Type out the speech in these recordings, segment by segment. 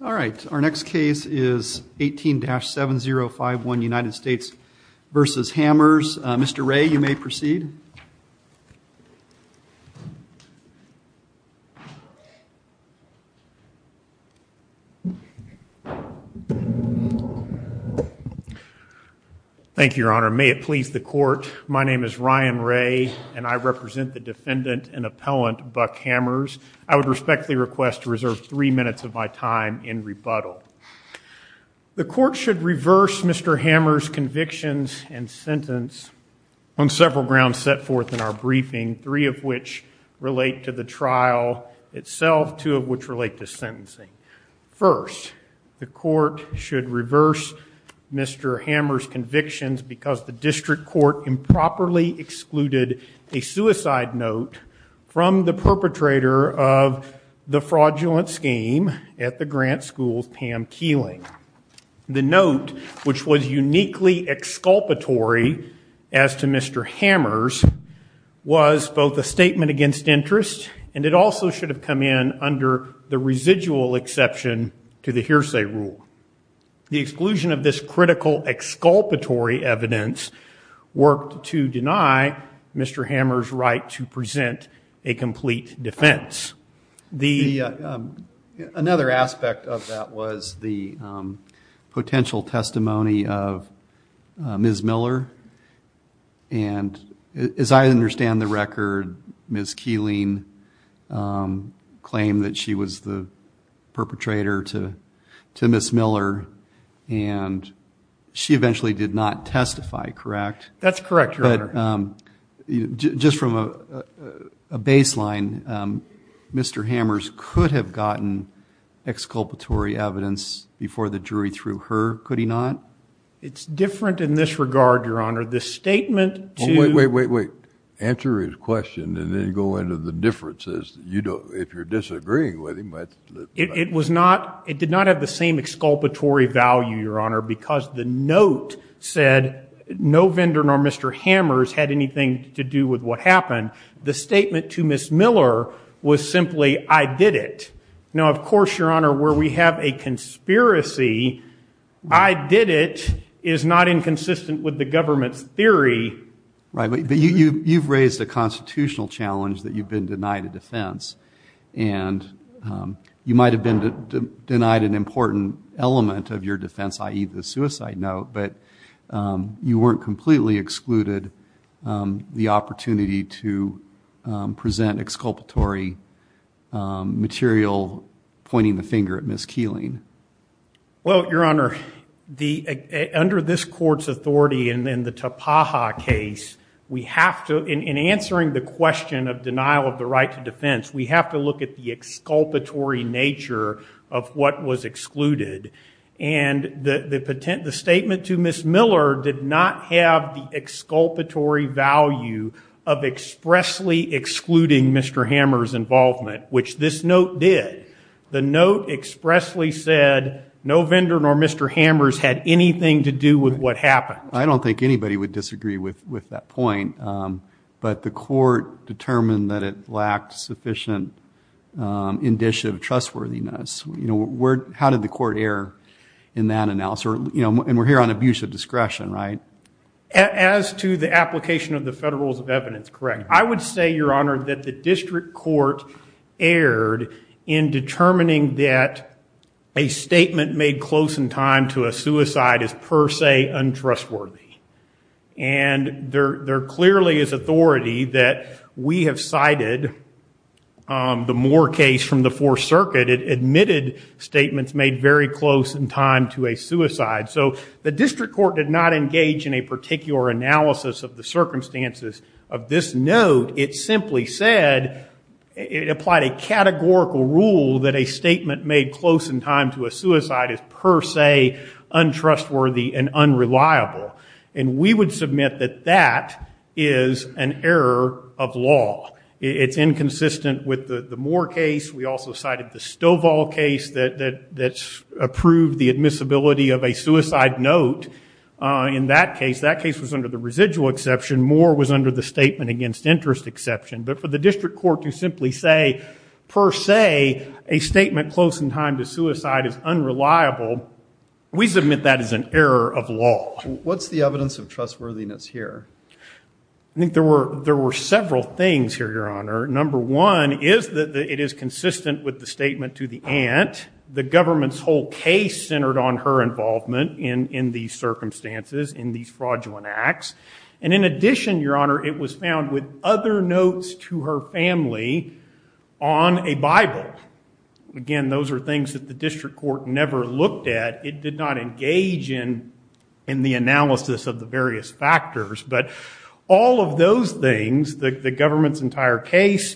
All right, our next case is 18-7051 United States v. Hammers. Mr. Ray, you may proceed. Thank you, Your Honor. May it please the Court, my name is Ryan Ray and I represent the defendant and appellant Buck Hammers. I would respectfully request to reserve three minutes of my time in rebuttal. The Court should reverse Mr. Hammers' convictions and sentence on several grounds set forth in our briefing, three of which relate to the trial itself, two of which relate to sentencing. First, the Court should reverse Mr. Hammers' convictions because the from the perpetrator of the fraudulent scheme at the Grant School's Pam Keeling. The note, which was uniquely exculpatory as to Mr. Hammers, was both a statement against interest and it also should have come in under the residual exception to the hearsay rule. The exclusion of this critical exculpatory evidence worked to deny Mr. Hammers' right to present a complete defense. Another aspect of that was the potential testimony of Ms. Miller and as I understand the she eventually did not testify, correct? That's correct, Your Honor. Just from a baseline, Mr. Hammers could have gotten exculpatory evidence before the jury threw her, could he not? It's different in this regard, Your Honor. The statement to... Wait, wait, wait, wait. Answer his question and then go into the differences, you know, if you're disagreeing with him. It was not, it did not have the same exculpatory value, Your Honor, because the note said no vendor nor Mr. Hammers had anything to do with what happened. The statement to Ms. Miller was simply, I did it. Now, of course, Your Honor, where we have a conspiracy, I did it, is not inconsistent with the government's theory. Right, but you've raised a constitutional challenge that you've been denied a defense and you might have been denied an important element of your defense, i.e. the suicide note, but you weren't completely excluded the opportunity to present exculpatory material pointing the finger at Ms. Keeling. Well, Your Honor, under this court's authority and then the Tapaha case, we have to, in answering the question of denial of the right to defense, we have to look at the exculpatory nature of what was excluded and the statement to Ms. Miller did not have the exculpatory value of expressly excluding Mr. Hammers' involvement, which this note did. The note expressly said no vendor nor Mr. Hammers had anything to do with what happened. I don't think anybody would disagree with that point, but the court determined that it lacked sufficient indicia of trustworthiness. You know, how did the court err in that analysis? You know, and we're here on abuse of discretion, right? As to the application of the Federal Rules of Evidence, correct. I would say, Your Honor, that the district court erred in determining that a statement made close in time to a suicide is per se untrustworthy. And there clearly is authority that we have cited the Moore case from the Fourth Circuit. It admitted statements made very close in time to a suicide. So the district court did not engage in a particular analysis of the circumstances of this note. It simply said, it applied a categorical rule that a statement made close in time to a suicide is per se untrustworthy and unreliable. And we would submit that that is an error of law. It's inconsistent with the Moore case. We also cited the Stovall case that's approved the admissibility of a suicide note. In that case, that case was under the residual exception. Moore was under the statement against interest exception. But for the district court to simply say, per se, a statement close in time to suicide is unreliable, we submit that is an error of law. What's the evidence of trustworthiness here? I think there were several things here, Your Honor. Number one is that it is consistent with the statement to the aunt. The government's whole case centered on her involvement in these circumstances, in these fraudulent acts. And in addition, Your Honor, it was found with other notes to her family on a Bible. Again, those are things that the district court never looked at. It did not engage in the analysis of the various factors. But all of those things, the government's entire case,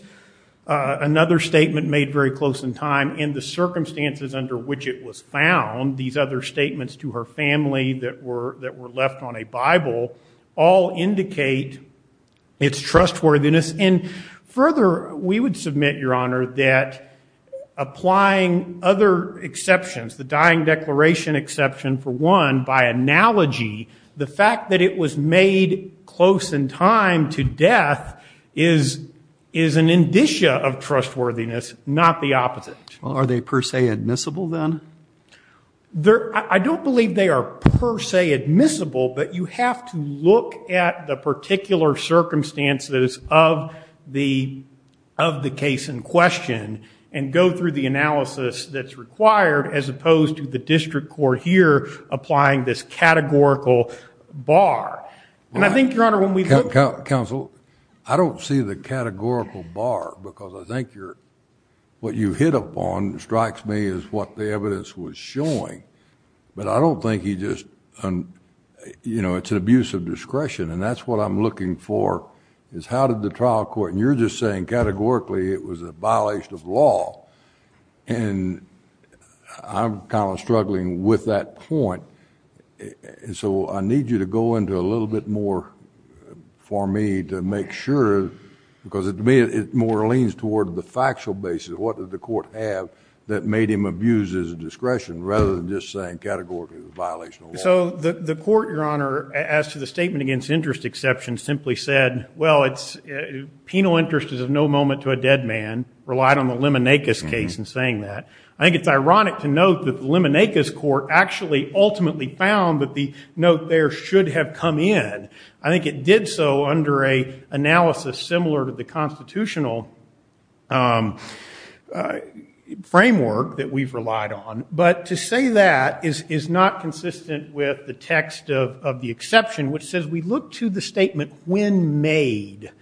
another statement made very close in time, in the circumstances under which it was found, these other statements to her family that were left on a Bible, all indicate its trustworthiness. And further, we would submit, Your Honor, that applying other exceptions, the dying declaration exception for one, by analogy, the fact that it was made close in time to death is an indicia of trustworthiness, not the opposite. Well, are they per se admissible then? I don't believe they are per se admissible, but you have to look at the particular circumstances of the case in question and go through the analysis that's required as opposed to the district court here applying this categorical bar. And I think, Your Honor, when we look- Counsel, I don't see the categorical bar because I think what you hit upon strikes me as what the evidence was showing. But I don't think he just, you know, it's an abuse of discretion. And that's what I'm looking for, is how did the trial court, and you're just saying categorically it was a violation of law. And I'm kind of struggling with that point. And so I need you to go into a little bit more for me to make sure, because to me it more leans toward the factual basis. What did the court have that made him abused as a discretion rather than just saying categorically it was a violation of law? So the court, Your Honor, as to the statement against interest exception simply said, well, penal interest is of no moment to a dead man, relied on the Liminakis case in saying that. I think it's ironic to note that the Liminakis court actually ultimately found that the note there should have come in. I think it did so under an analysis similar to the constitutional framework that we've relied on. But to say that is not consistent with the text of the exception which says we look to the statement when made.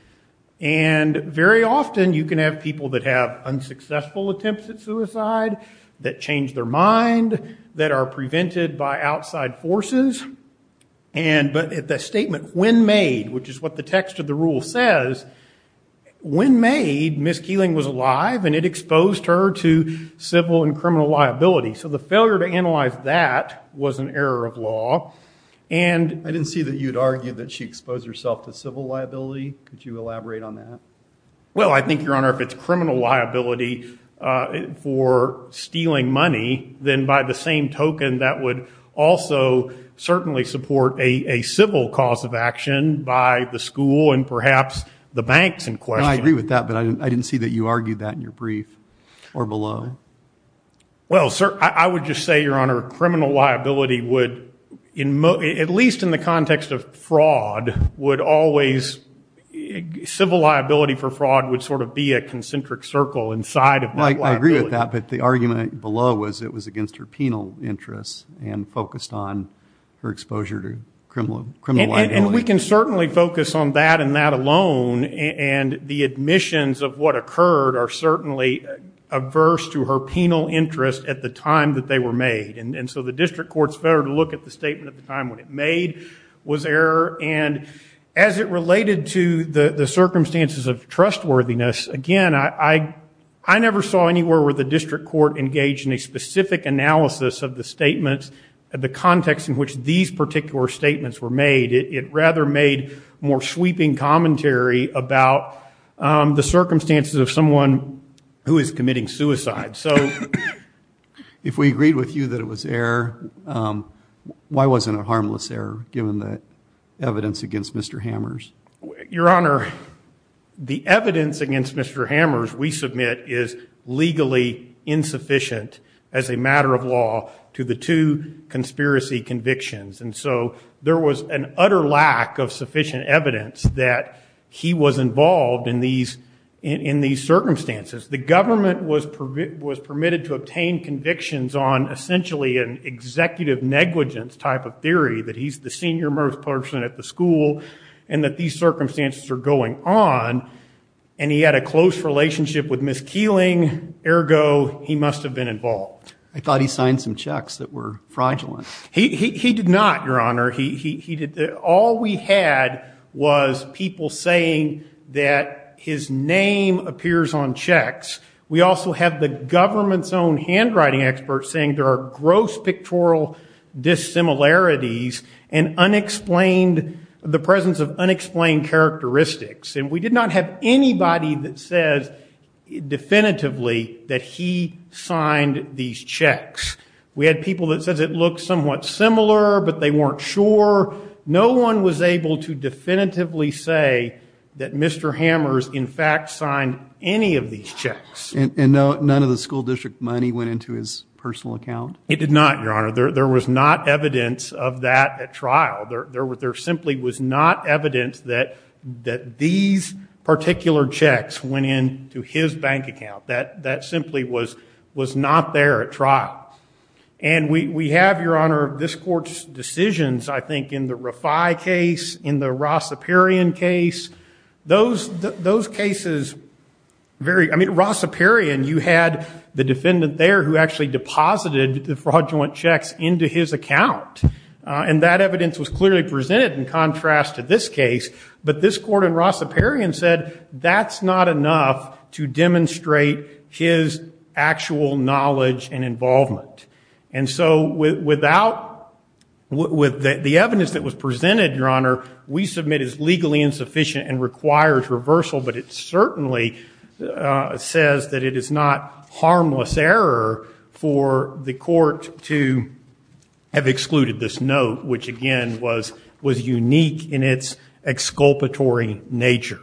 And very often you can have people that have unsuccessful attempts at suicide, that change their mind, that are prevented by outside forces. And but if the statement when made, which is what the text of the rule says, when made, Ms. Keeling was alive and it exposed her to civil and criminal liability. So the failure to analyze that was an error of law. And I didn't see that you'd argue that she exposed herself to civil liability. Could you elaborate on that? Well, I think, Your Honor, if it's criminal liability for stealing money, then by the same token that would also certainly support a civil cause of action by the school and perhaps the banks in question. I agree with that, but I didn't see that you argued that in your brief or below. Well, sir, I would just say, Your Honor, criminal liability would, at least in the context of fraud, would always, civil liability for fraud would sort of be a concentric circle inside of that liability. I agree with that, but the her exposure to criminal liability. And we can certainly focus on that and that alone. And the admissions of what occurred are certainly averse to her penal interest at the time that they were made. And so the district court's failure to look at the statement at the time when it made was error. And as it related to the circumstances of trustworthiness, again, I never saw anywhere where the district court engaged in a specific analysis of the statements, the context in which these particular statements were made. It rather made more sweeping commentary about the circumstances of someone who is committing suicide. So if we agreed with you that it was error, why wasn't it harmless error given the evidence against Mr. Hammers? Your Honor, the evidence against Mr. Hammers, we submit, is legally insufficient as a matter of law to the two conspiracy convictions. And so there was an utter lack of sufficient evidence that he was involved in these circumstances. The government was permitted to obtain convictions on essentially an executive negligence type of theory, that he's the senior most person at the school and that these circumstances are going on. And he had a close relationship with Ms. Keeling, ergo, he must have been involved. I thought he signed some checks that were fraudulent. He did not, Your Honor. All we had was people saying that his name appears on checks. We also have the government's own handwriting experts saying there are gross pictorial dissimilarities and unexplained, the presence of characteristics. And we did not have anybody that says, definitively, that he signed these checks. We had people that said it looked somewhat similar, but they weren't sure. No one was able to definitively say that Mr. Hammers, in fact, signed any of these checks. And none of the school district money went into his personal account? It did not, Your Honor. There was not evidence of that at all, that these particular checks went into his bank account. That simply was not there at trial. And we have, Your Honor, this court's decisions, I think, in the Rafai case, in the Rossiparian case. Those cases vary. I mean, Rossiparian, you had the defendant there who actually deposited the fraudulent checks into his account. And that evidence was clearly presented in contrast to this case. But this court in Rossiparian said, that's not enough to demonstrate his actual knowledge and involvement. And so without, with the evidence that was presented, Your Honor, we submit as legally insufficient and requires reversal. But it certainly says that it is not harmless error for the court to have excluded this note, which again, was unique in its exculpatory nature.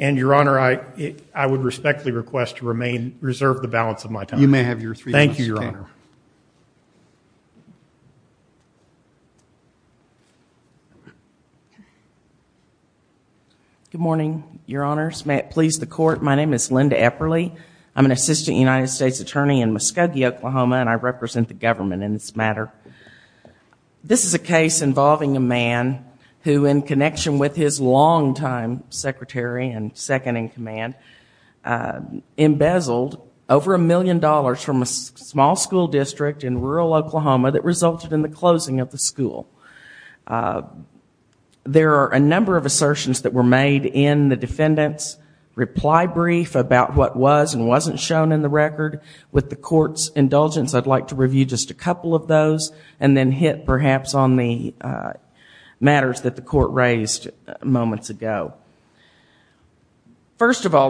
And Your Honor, I would respectfully request to remain, reserve the balance of my time. You may have your three minutes. Thank you, Your Honor. Good morning, Your Honors. May it please the court, my name is Linda Epperle. I'm an assistant United States attorney in Muskogee, Oklahoma, and I represent the government in this matter. This is a case involving a man who, in connection with his longtime secretary and second in command, embezzled over a million dollars from a small school district in rural Oklahoma that resulted in the closing of the school. There are a number of assertions that were made in the defendant's reply brief about what was and wasn't shown in the record. With the court's indulgence, I'd like to recall,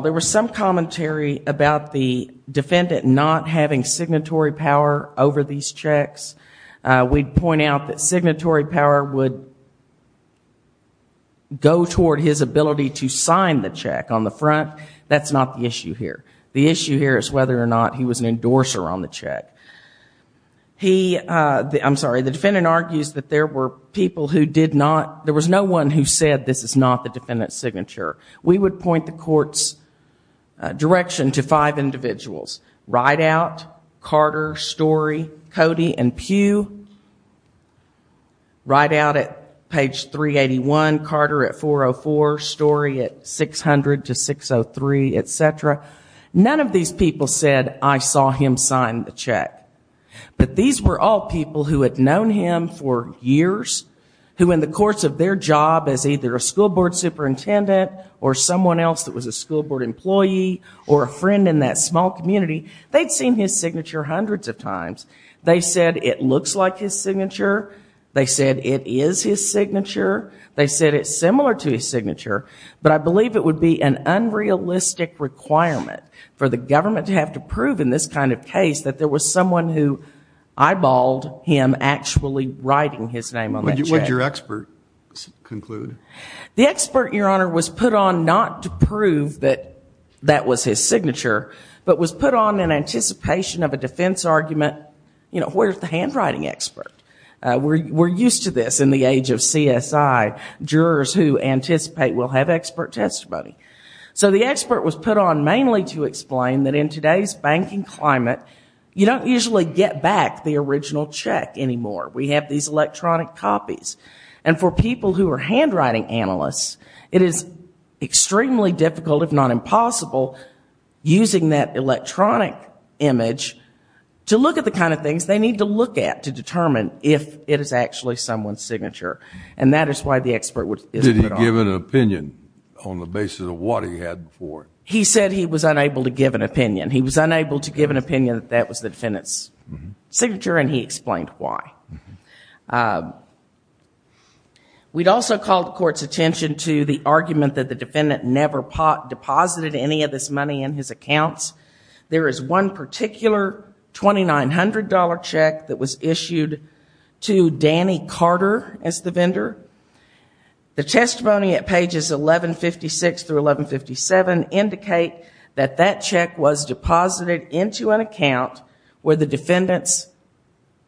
there was some commentary about the defendant not having signatory power over these checks. We'd point out that signatory power would go toward his ability to sign the check on the front. That's not the issue here. The issue here is whether or not he was an endorser on the check. I'm one who said this is not the defendant's signature. We would point the court's direction to five individuals. Rideout, Carter, Story, Cody, and Pugh. Rideout at page 381, Carter at 404, Story at 600 to 603, etc. None of these people said, I saw him sign the check. But these were all people who had known him for years, who in the course of their job as either a school board superintendent or someone else that was a school board employee or a friend in that small community, they'd seen his signature hundreds of times. They said it looks like his signature. They said it is his signature. They said it's similar to his signature. But I believe it would be an unrealistic requirement for the government to have to prove in this kind of case that there was someone who was actually writing his name on that check. What did your expert conclude? The expert, Your Honor, was put on not to prove that that was his signature, but was put on in anticipation of a defense argument. Where's the handwriting expert? We're used to this in the age of CSI. Jurors who anticipate will have expert testimony. So the expert was put on mainly to explain that in today's banking climate, you don't usually get back the original check anymore. We have these electronic copies. And for people who are handwriting analysts, it is extremely difficult, if not impossible, using that electronic image to look at the kind of things they need to look at to determine if it is actually someone's signature. And that is why the expert is put on. Did he give an opinion on the basis of what he had before? He said he was unable to give an opinion. He was unable to give an opinion that that was the defendant's signature, and he explained why. We'd also call the court's attention to the argument that the defendant never deposited any of this money in his accounts. There is one particular $2,900 check that was indicated that that check was deposited into an account where the defendant's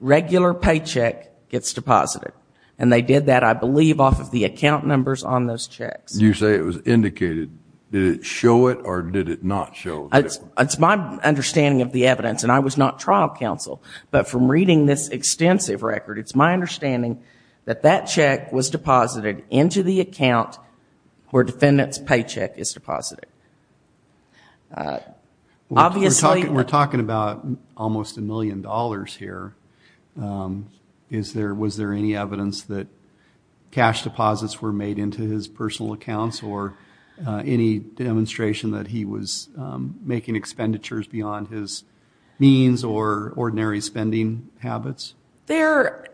regular paycheck gets deposited. And they did that, I believe, off of the account numbers on those checks. You say it was indicated. Did it show it, or did it not show it? It's my understanding of the evidence, and I was not trial counsel. But from reading this extensive record, it's my understanding that that check was deposited into the account where the defendant's paycheck is deposited. We're talking about almost a million dollars here. Was there any evidence that cash deposits were made into his personal accounts, or any demonstration that he was making expenditures beyond his means or ordinary spending habits? There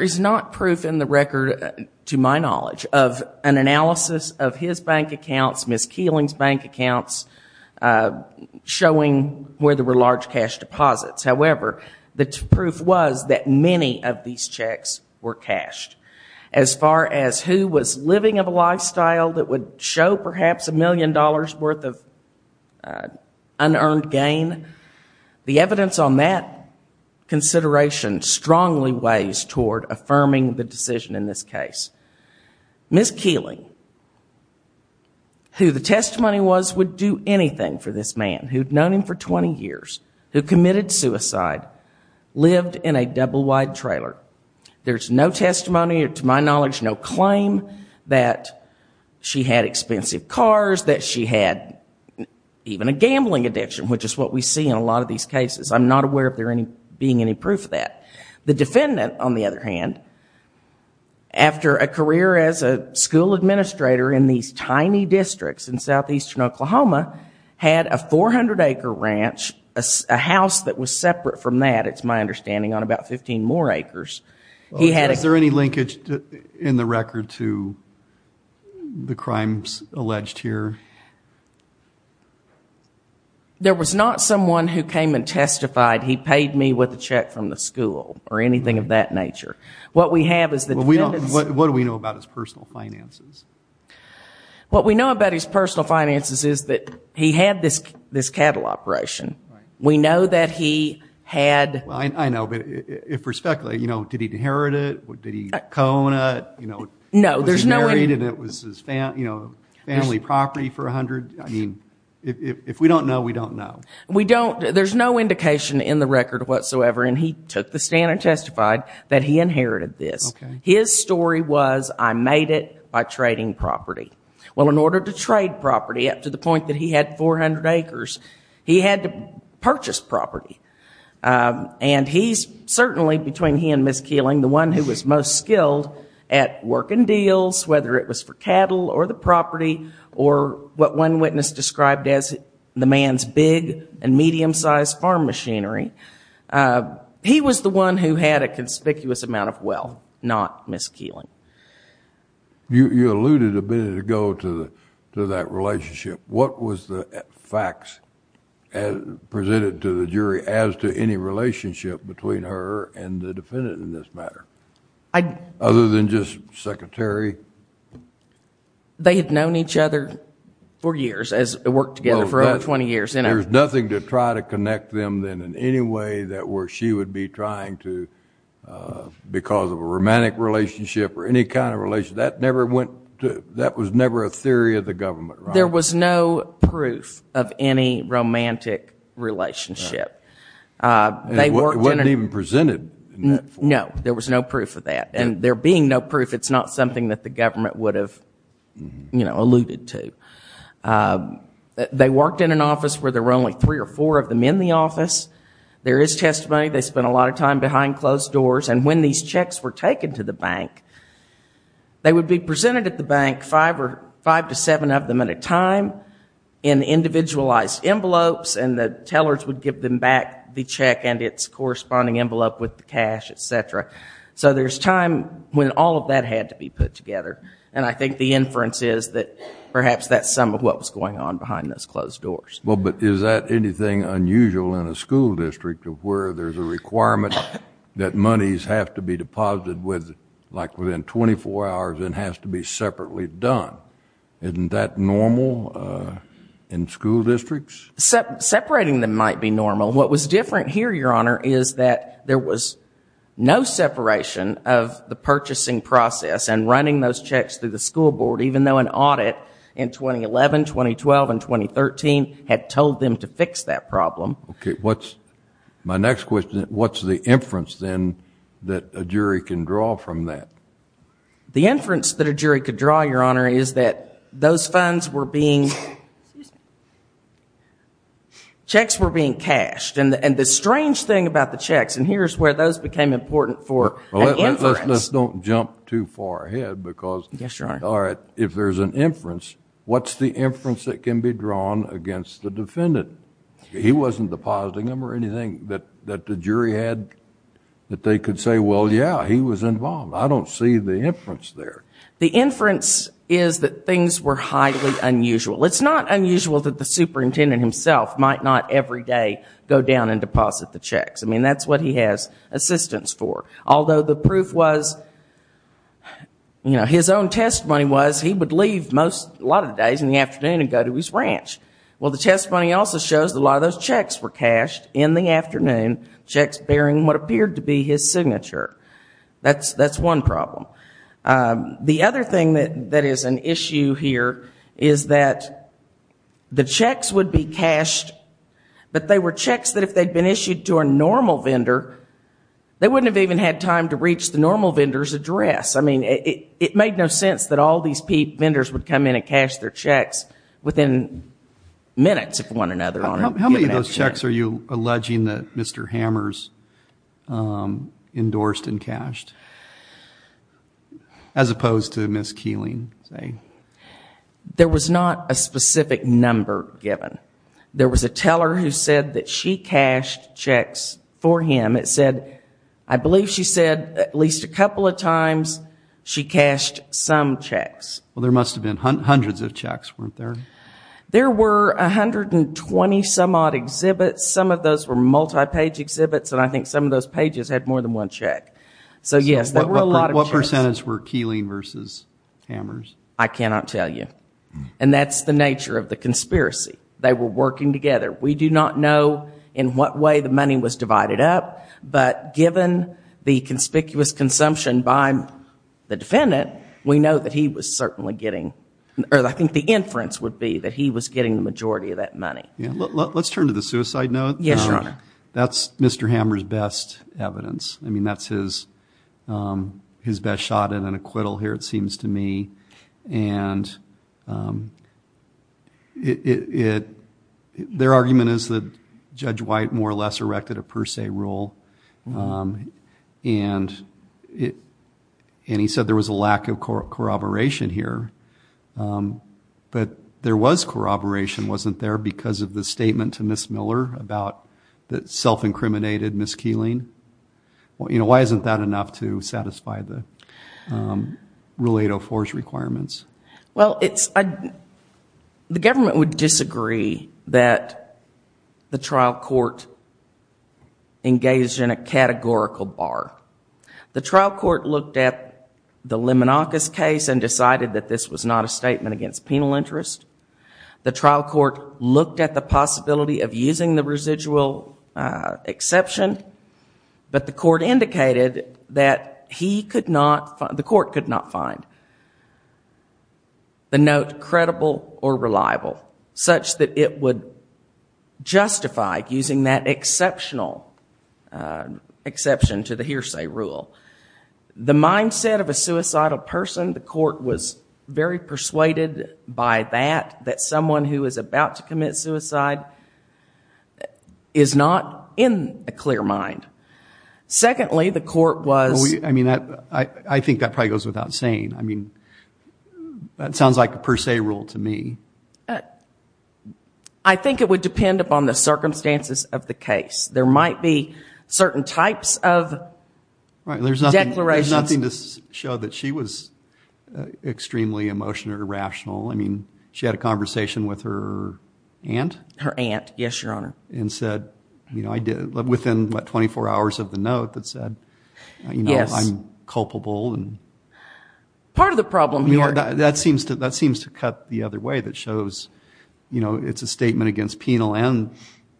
is not proof in the record, to my knowledge, of an analysis of his bank accounts, Ms. Keeling's bank accounts, showing where there were large cash deposits. However, the proof was that many of these checks were cashed. As far as who was living of a lifestyle that would show perhaps a million dollars' worth of unearned gain, the evidence on that consideration strongly weighs toward affirming the decision in this case. Ms. Keeling, who the testimony was would do anything for this man, who'd known him for 20 years, who committed suicide, lived in a double-wide trailer. There's no testimony, to my knowledge, no claim that she had expensive cars, that she had even a gambling addiction, which is what we see in a lot of these cases. I'm not aware of there being any proof of that. The defendant, on the other hand, after a career as a school administrator in these tiny districts in southeastern Oklahoma, had a 400-acre ranch, a house that was Is there any linkage in the record to the crimes alleged here? There was not someone who came and testified, he paid me with a check from the school, or anything of that nature. What we have is the defendant's... What do we know about his personal finances? What we know about his personal finances is that he had this cattle operation. We know that he had... I know, but did he inherit it? Did he co-own it? Was he married and it was his family property for $100? If we don't know, we don't know. There's no indication in the record whatsoever, and he took the stand and testified that he inherited this. His story was, I made it by trading property. In order to trade property up to the point that he had 400 acres, he had to purchase property. And he's certainly, between he and Ms. Keeling, the one who was most skilled at working deals, whether it was for cattle or the property, or what one witness described as the man's big and medium-sized farm machinery. He was the one who had a conspicuous amount of wealth, not Ms. Keeling. You alluded a minute ago to that relationship. What was the facts presented to the jury as to any relationship between her and the defendant in this matter, other than just secretary? They had known each other for years, worked together for over 20 years. There's nothing to try to connect them in any way where she would be trying to, because of a romantic relationship or any kind of relationship. That was never a theory of the government, right? There was no proof of any romantic relationship. It wasn't even presented. No, there was no proof of that. And there being no proof, it's not something that the government would have alluded to. They worked in an office where there were only three or four of them in the office. There is testimony. They spent a lot of time behind closed doors. And when these checks were taken to the bank, they would be presented at the bank, five to seven of them at a time, in individualized envelopes, and the tellers would give them back the check and its corresponding envelope with the cash, etc. So there's time when all of that had to be put together. And I think the inference is that perhaps that's some of what was going on behind those closed doors. Well, but is that anything unusual in a school district, where there's a requirement that monies have to be deposited within 24 hours and has to be separately done? Isn't that normal in school districts? Separating them might be normal. What was different here, Your Honor, is that there was no separation of the purchasing process and running those checks through the school board, even though an audit in 2011, 2012, and 2013 had told them to fix that problem. Okay. What's my next question? What's the inference, then, that a jury can draw from that? The inference that a jury could draw, Your Honor, is that those funds were being... Checks were being cashed. And the strange thing about the checks, and here's where those became important for an inference... Let's don't jump too far ahead because... Yes, Your Honor. All right. If there's an inference, what's the inference that can be drawn against the defendant? He wasn't depositing them or anything that the jury had that they could say, well, yeah, he was involved. I don't see the inference there. The inference is that things were highly unusual. It's not unusual that the superintendent himself might not every day go down and deposit the checks. I mean, that's what he has assistance for. Although the proof was... His own testimony was he would leave a lot of days in the afternoon and go to his ranch. Well, the testimony also shows that a lot of those checks were cashed in the afternoon, checks bearing what appeared to be his signature. That's one problem. The other thing that is an issue here is that the checks would be cashed, but they were checks that if they'd been issued to a normal vendor, they wouldn't have even had time to reach the normal vendor's address. I mean, it made no sense that all these vendors would come in and cash their checks within minutes of one another. How many of those checks are you alleging that Mr. Hammers endorsed and cashed, as opposed to Ms. Keeling, say? There was not a specific number given. There was a teller who said that she cashed checks for him. It said, I believe she said at least a couple of times she cashed some checks. Well, there must have been hundreds of checks, weren't there? There were 120-some-odd exhibits. Some of those were multi-page exhibits, and I think some of those pages had more than one check. So, yes, there were a lot of checks. What percentage were Keeling versus Hammers? I cannot tell you. And that's the nature of the conspiracy. They were working together. We do not know in what way the money was divided up, but given the conspicuous consumption by the defendant, we know that he was certainly getting, or I think the inference would be that he was getting the majority of that money. Let's turn to the suicide note. Yes, Your Honor. That's Mr. Hammers' best evidence. I mean, that's his best shot at an acquittal here, it seems to me. And their argument is that Judge White more or less erected a per se rule, and he said there was a lack of corroboration here. But there was corroboration, wasn't there, because of the statement to Ms. Miller about the self-incriminated Ms. Keeling? Why isn't that enough to satisfy the Rule 804's requirements? Well, the government would disagree that the trial court engaged in a categorical bar. The trial court looked at the Liminakis case and decided that this was not a statement against penal interest. The trial court looked at the possibility of using the residual exception, but the court indicated that the court could not find the note credible or reliable, such that it would justify using that exceptional exception to the hearsay rule. The mindset of a suicidal person, the court was very persuaded by that, that someone who is about to commit suicide is not in a clear mind. Secondly, the court was... I mean, I think that probably goes without saying. I mean, that sounds like a per se rule to me. I think it would depend upon the circumstances of the case. There might be certain types of... Declarations. There's nothing to show that she was extremely emotional or irrational. I mean, she had a conversation with her aunt. Her aunt, yes, Your Honor. And said, you know, within what, 24 hours of the note, that said, you know, I'm culpable. Part of the problem here... That seems to cut the other way that shows, you know, it's a statement against penal and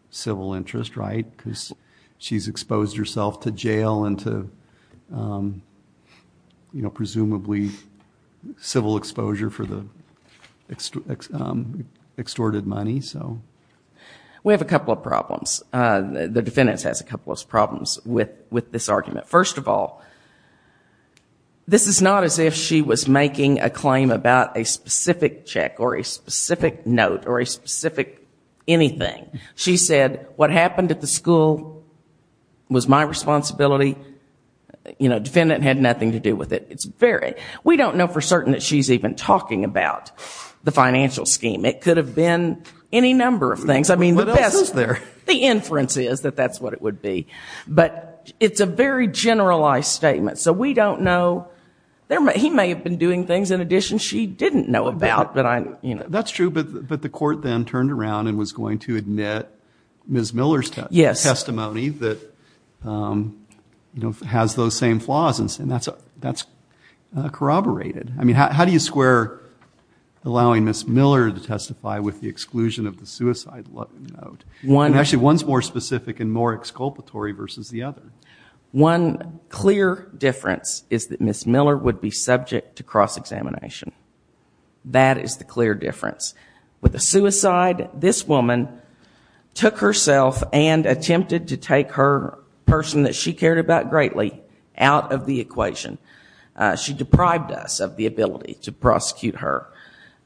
civil interest, right? Because she's exposed herself to jail and to, you know, presumably civil exposure for the extorted money, so... We have a couple of problems. The defendant has a couple of problems with this argument. First of all, this is not as if she was making a claim about a specific check or a specific note or a specific anything. She said, what happened at the school was my responsibility. You know, defendant had nothing to do with it. It's very... We don't know for certain that she's even talking about the financial scheme. It could have been any number of things. I mean, the best... What else is there? The inference is that that's what it would be. But it's a very generalized statement, so we don't know. He may have been doing things, in addition, she didn't know about. That's true, but the court then turned around and was going to admit Ms. Miller's testimony that, you know, has those same flaws, and that's corroborated. I mean, how do you square allowing Ms. Miller to testify with the exclusion of the suicide note? Actually, one's more specific and more exculpatory versus the other. One clear difference is that Ms. Miller would be subject to cross-examination. That is the clear difference. With the suicide, this woman took herself and attempted to take her person that she cared about greatly out of the equation. She deprived us of the ability to prosecute her.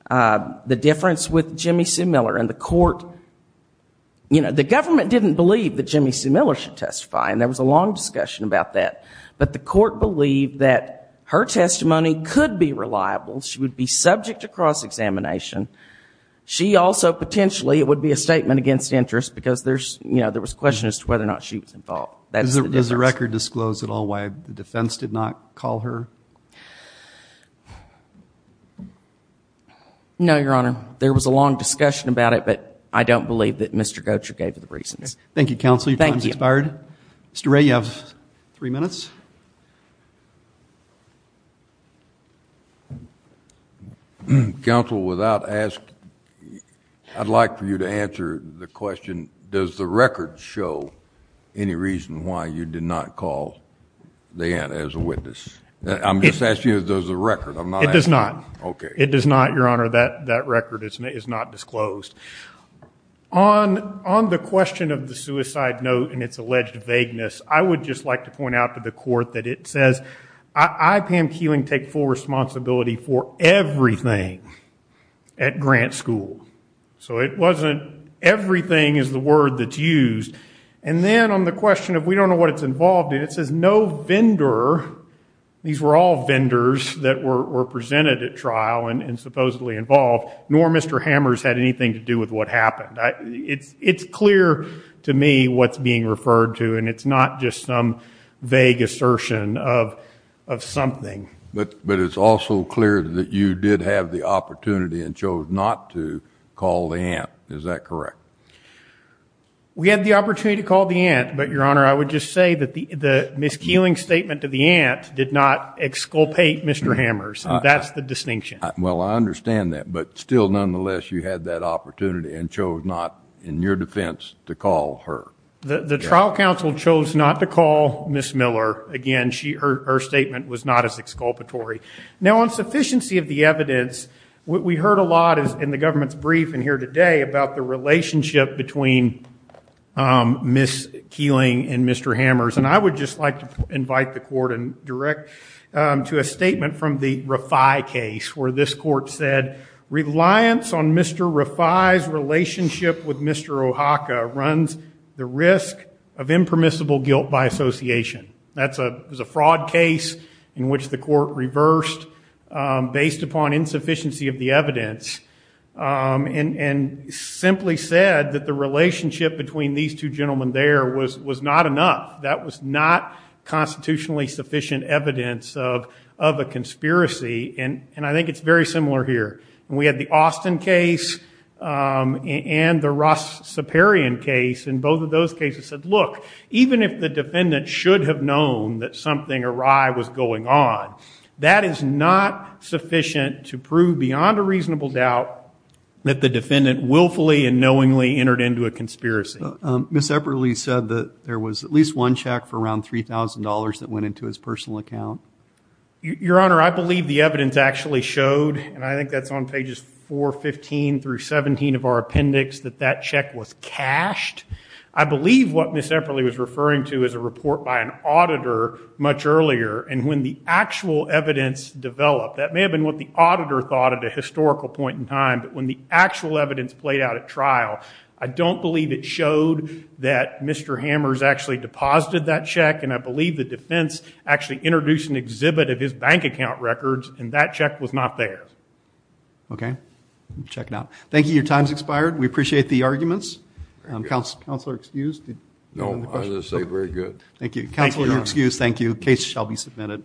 The difference with Jimmy Sue Miller and the court... You know, the government didn't believe that Jimmy Sue Miller should testify, and there was a long discussion about that, but the court believed that her testimony could be reliable. She would be subject to cross-examination. She also, potentially, it would be a statement against interest because there was a question as to whether or not she was involved. Does the record disclose at all why the defense did not call her? No, Your Honor. There was a long discussion about it, but I don't believe that Mr. Goettcher gave the reasons. Thank you, counsel. Your time has expired. Mr. Ray, you have three minutes. Counsel, without asking, I'd like for you to answer the question, does the record show any reason why you did not call the aunt as a witness? I'm just asking you, does the record? It does not. Okay. It does not, Your Honor. That record is not disclosed. On the question of the suicide note and its alleged vagueness, I would just like to point out to the court that it says, I, Pam Keeling, take full responsibility for everything at Grant School. So it wasn't everything is the word that's used. And then on the question of we don't know what it's involved in, it says no vendor, these were all vendors that were presented at trial and supposedly involved, nor Mr. Hammers had anything to do with what happened. It's clear to me what's being referred to, and it's not just some vague assertion of something. But it's also clear that you did have the opportunity and chose not to call the aunt. Is that correct? We had the opportunity to call the aunt, but, Your Honor, I would just say that the Ms. Keeling statement to the aunt did not exculpate Mr. Hammers. That's the distinction. Well, I understand that. But still, nonetheless, you had that opportunity and chose not, in your defense, to call her. The trial counsel chose not to call Ms. Miller. Again, her statement was not as exculpatory. Now, on sufficiency of the evidence, what we heard a lot in the government's briefing here today about the relationship between Ms. Keeling and Mr. Hammers, and I would just like to invite the court and direct to a statement from the Refai case, where this court said, reliance on Mr. Refai's relationship with Mr. Ohaka runs the risk of impermissible guilt by association. That was a fraud case in which the court reversed, based upon insufficiency of the evidence, and simply said that the relationship between these two gentlemen there was not enough. That was not constitutionally sufficient evidence of a conspiracy. And I think it's very similar here. And we had the Austin case and the Ross-Saperian case. And both of those cases said, look, even if the defendant should have known that something awry was going on, that is not sufficient to prove, beyond a reasonable doubt, that the defendant willfully and knowingly entered into a conspiracy. But Ms. Epperle said that there was at least one check for around $3,000 that went into his personal account. Your Honor, I believe the evidence actually showed, and I think that's on pages 415 through 17 of our appendix, that that check was cashed. I believe what Ms. Epperle was referring to is a report by an auditor much earlier. And when the actual evidence developed, that may have been what the auditor thought at a historical point in time. But when the actual evidence played out at trial, I don't believe it showed that Mr. Hammers actually deposited that check. And I believe the defense actually introduced an exhibit of his bank account records, and that check was not there. Okay. Check it out. Thank you. Your time's expired. We appreciate the arguments. Counselor, excused? No, I was going to say, very good. Thank you. Counselor, you're excused. Thank you. Case shall be submitted.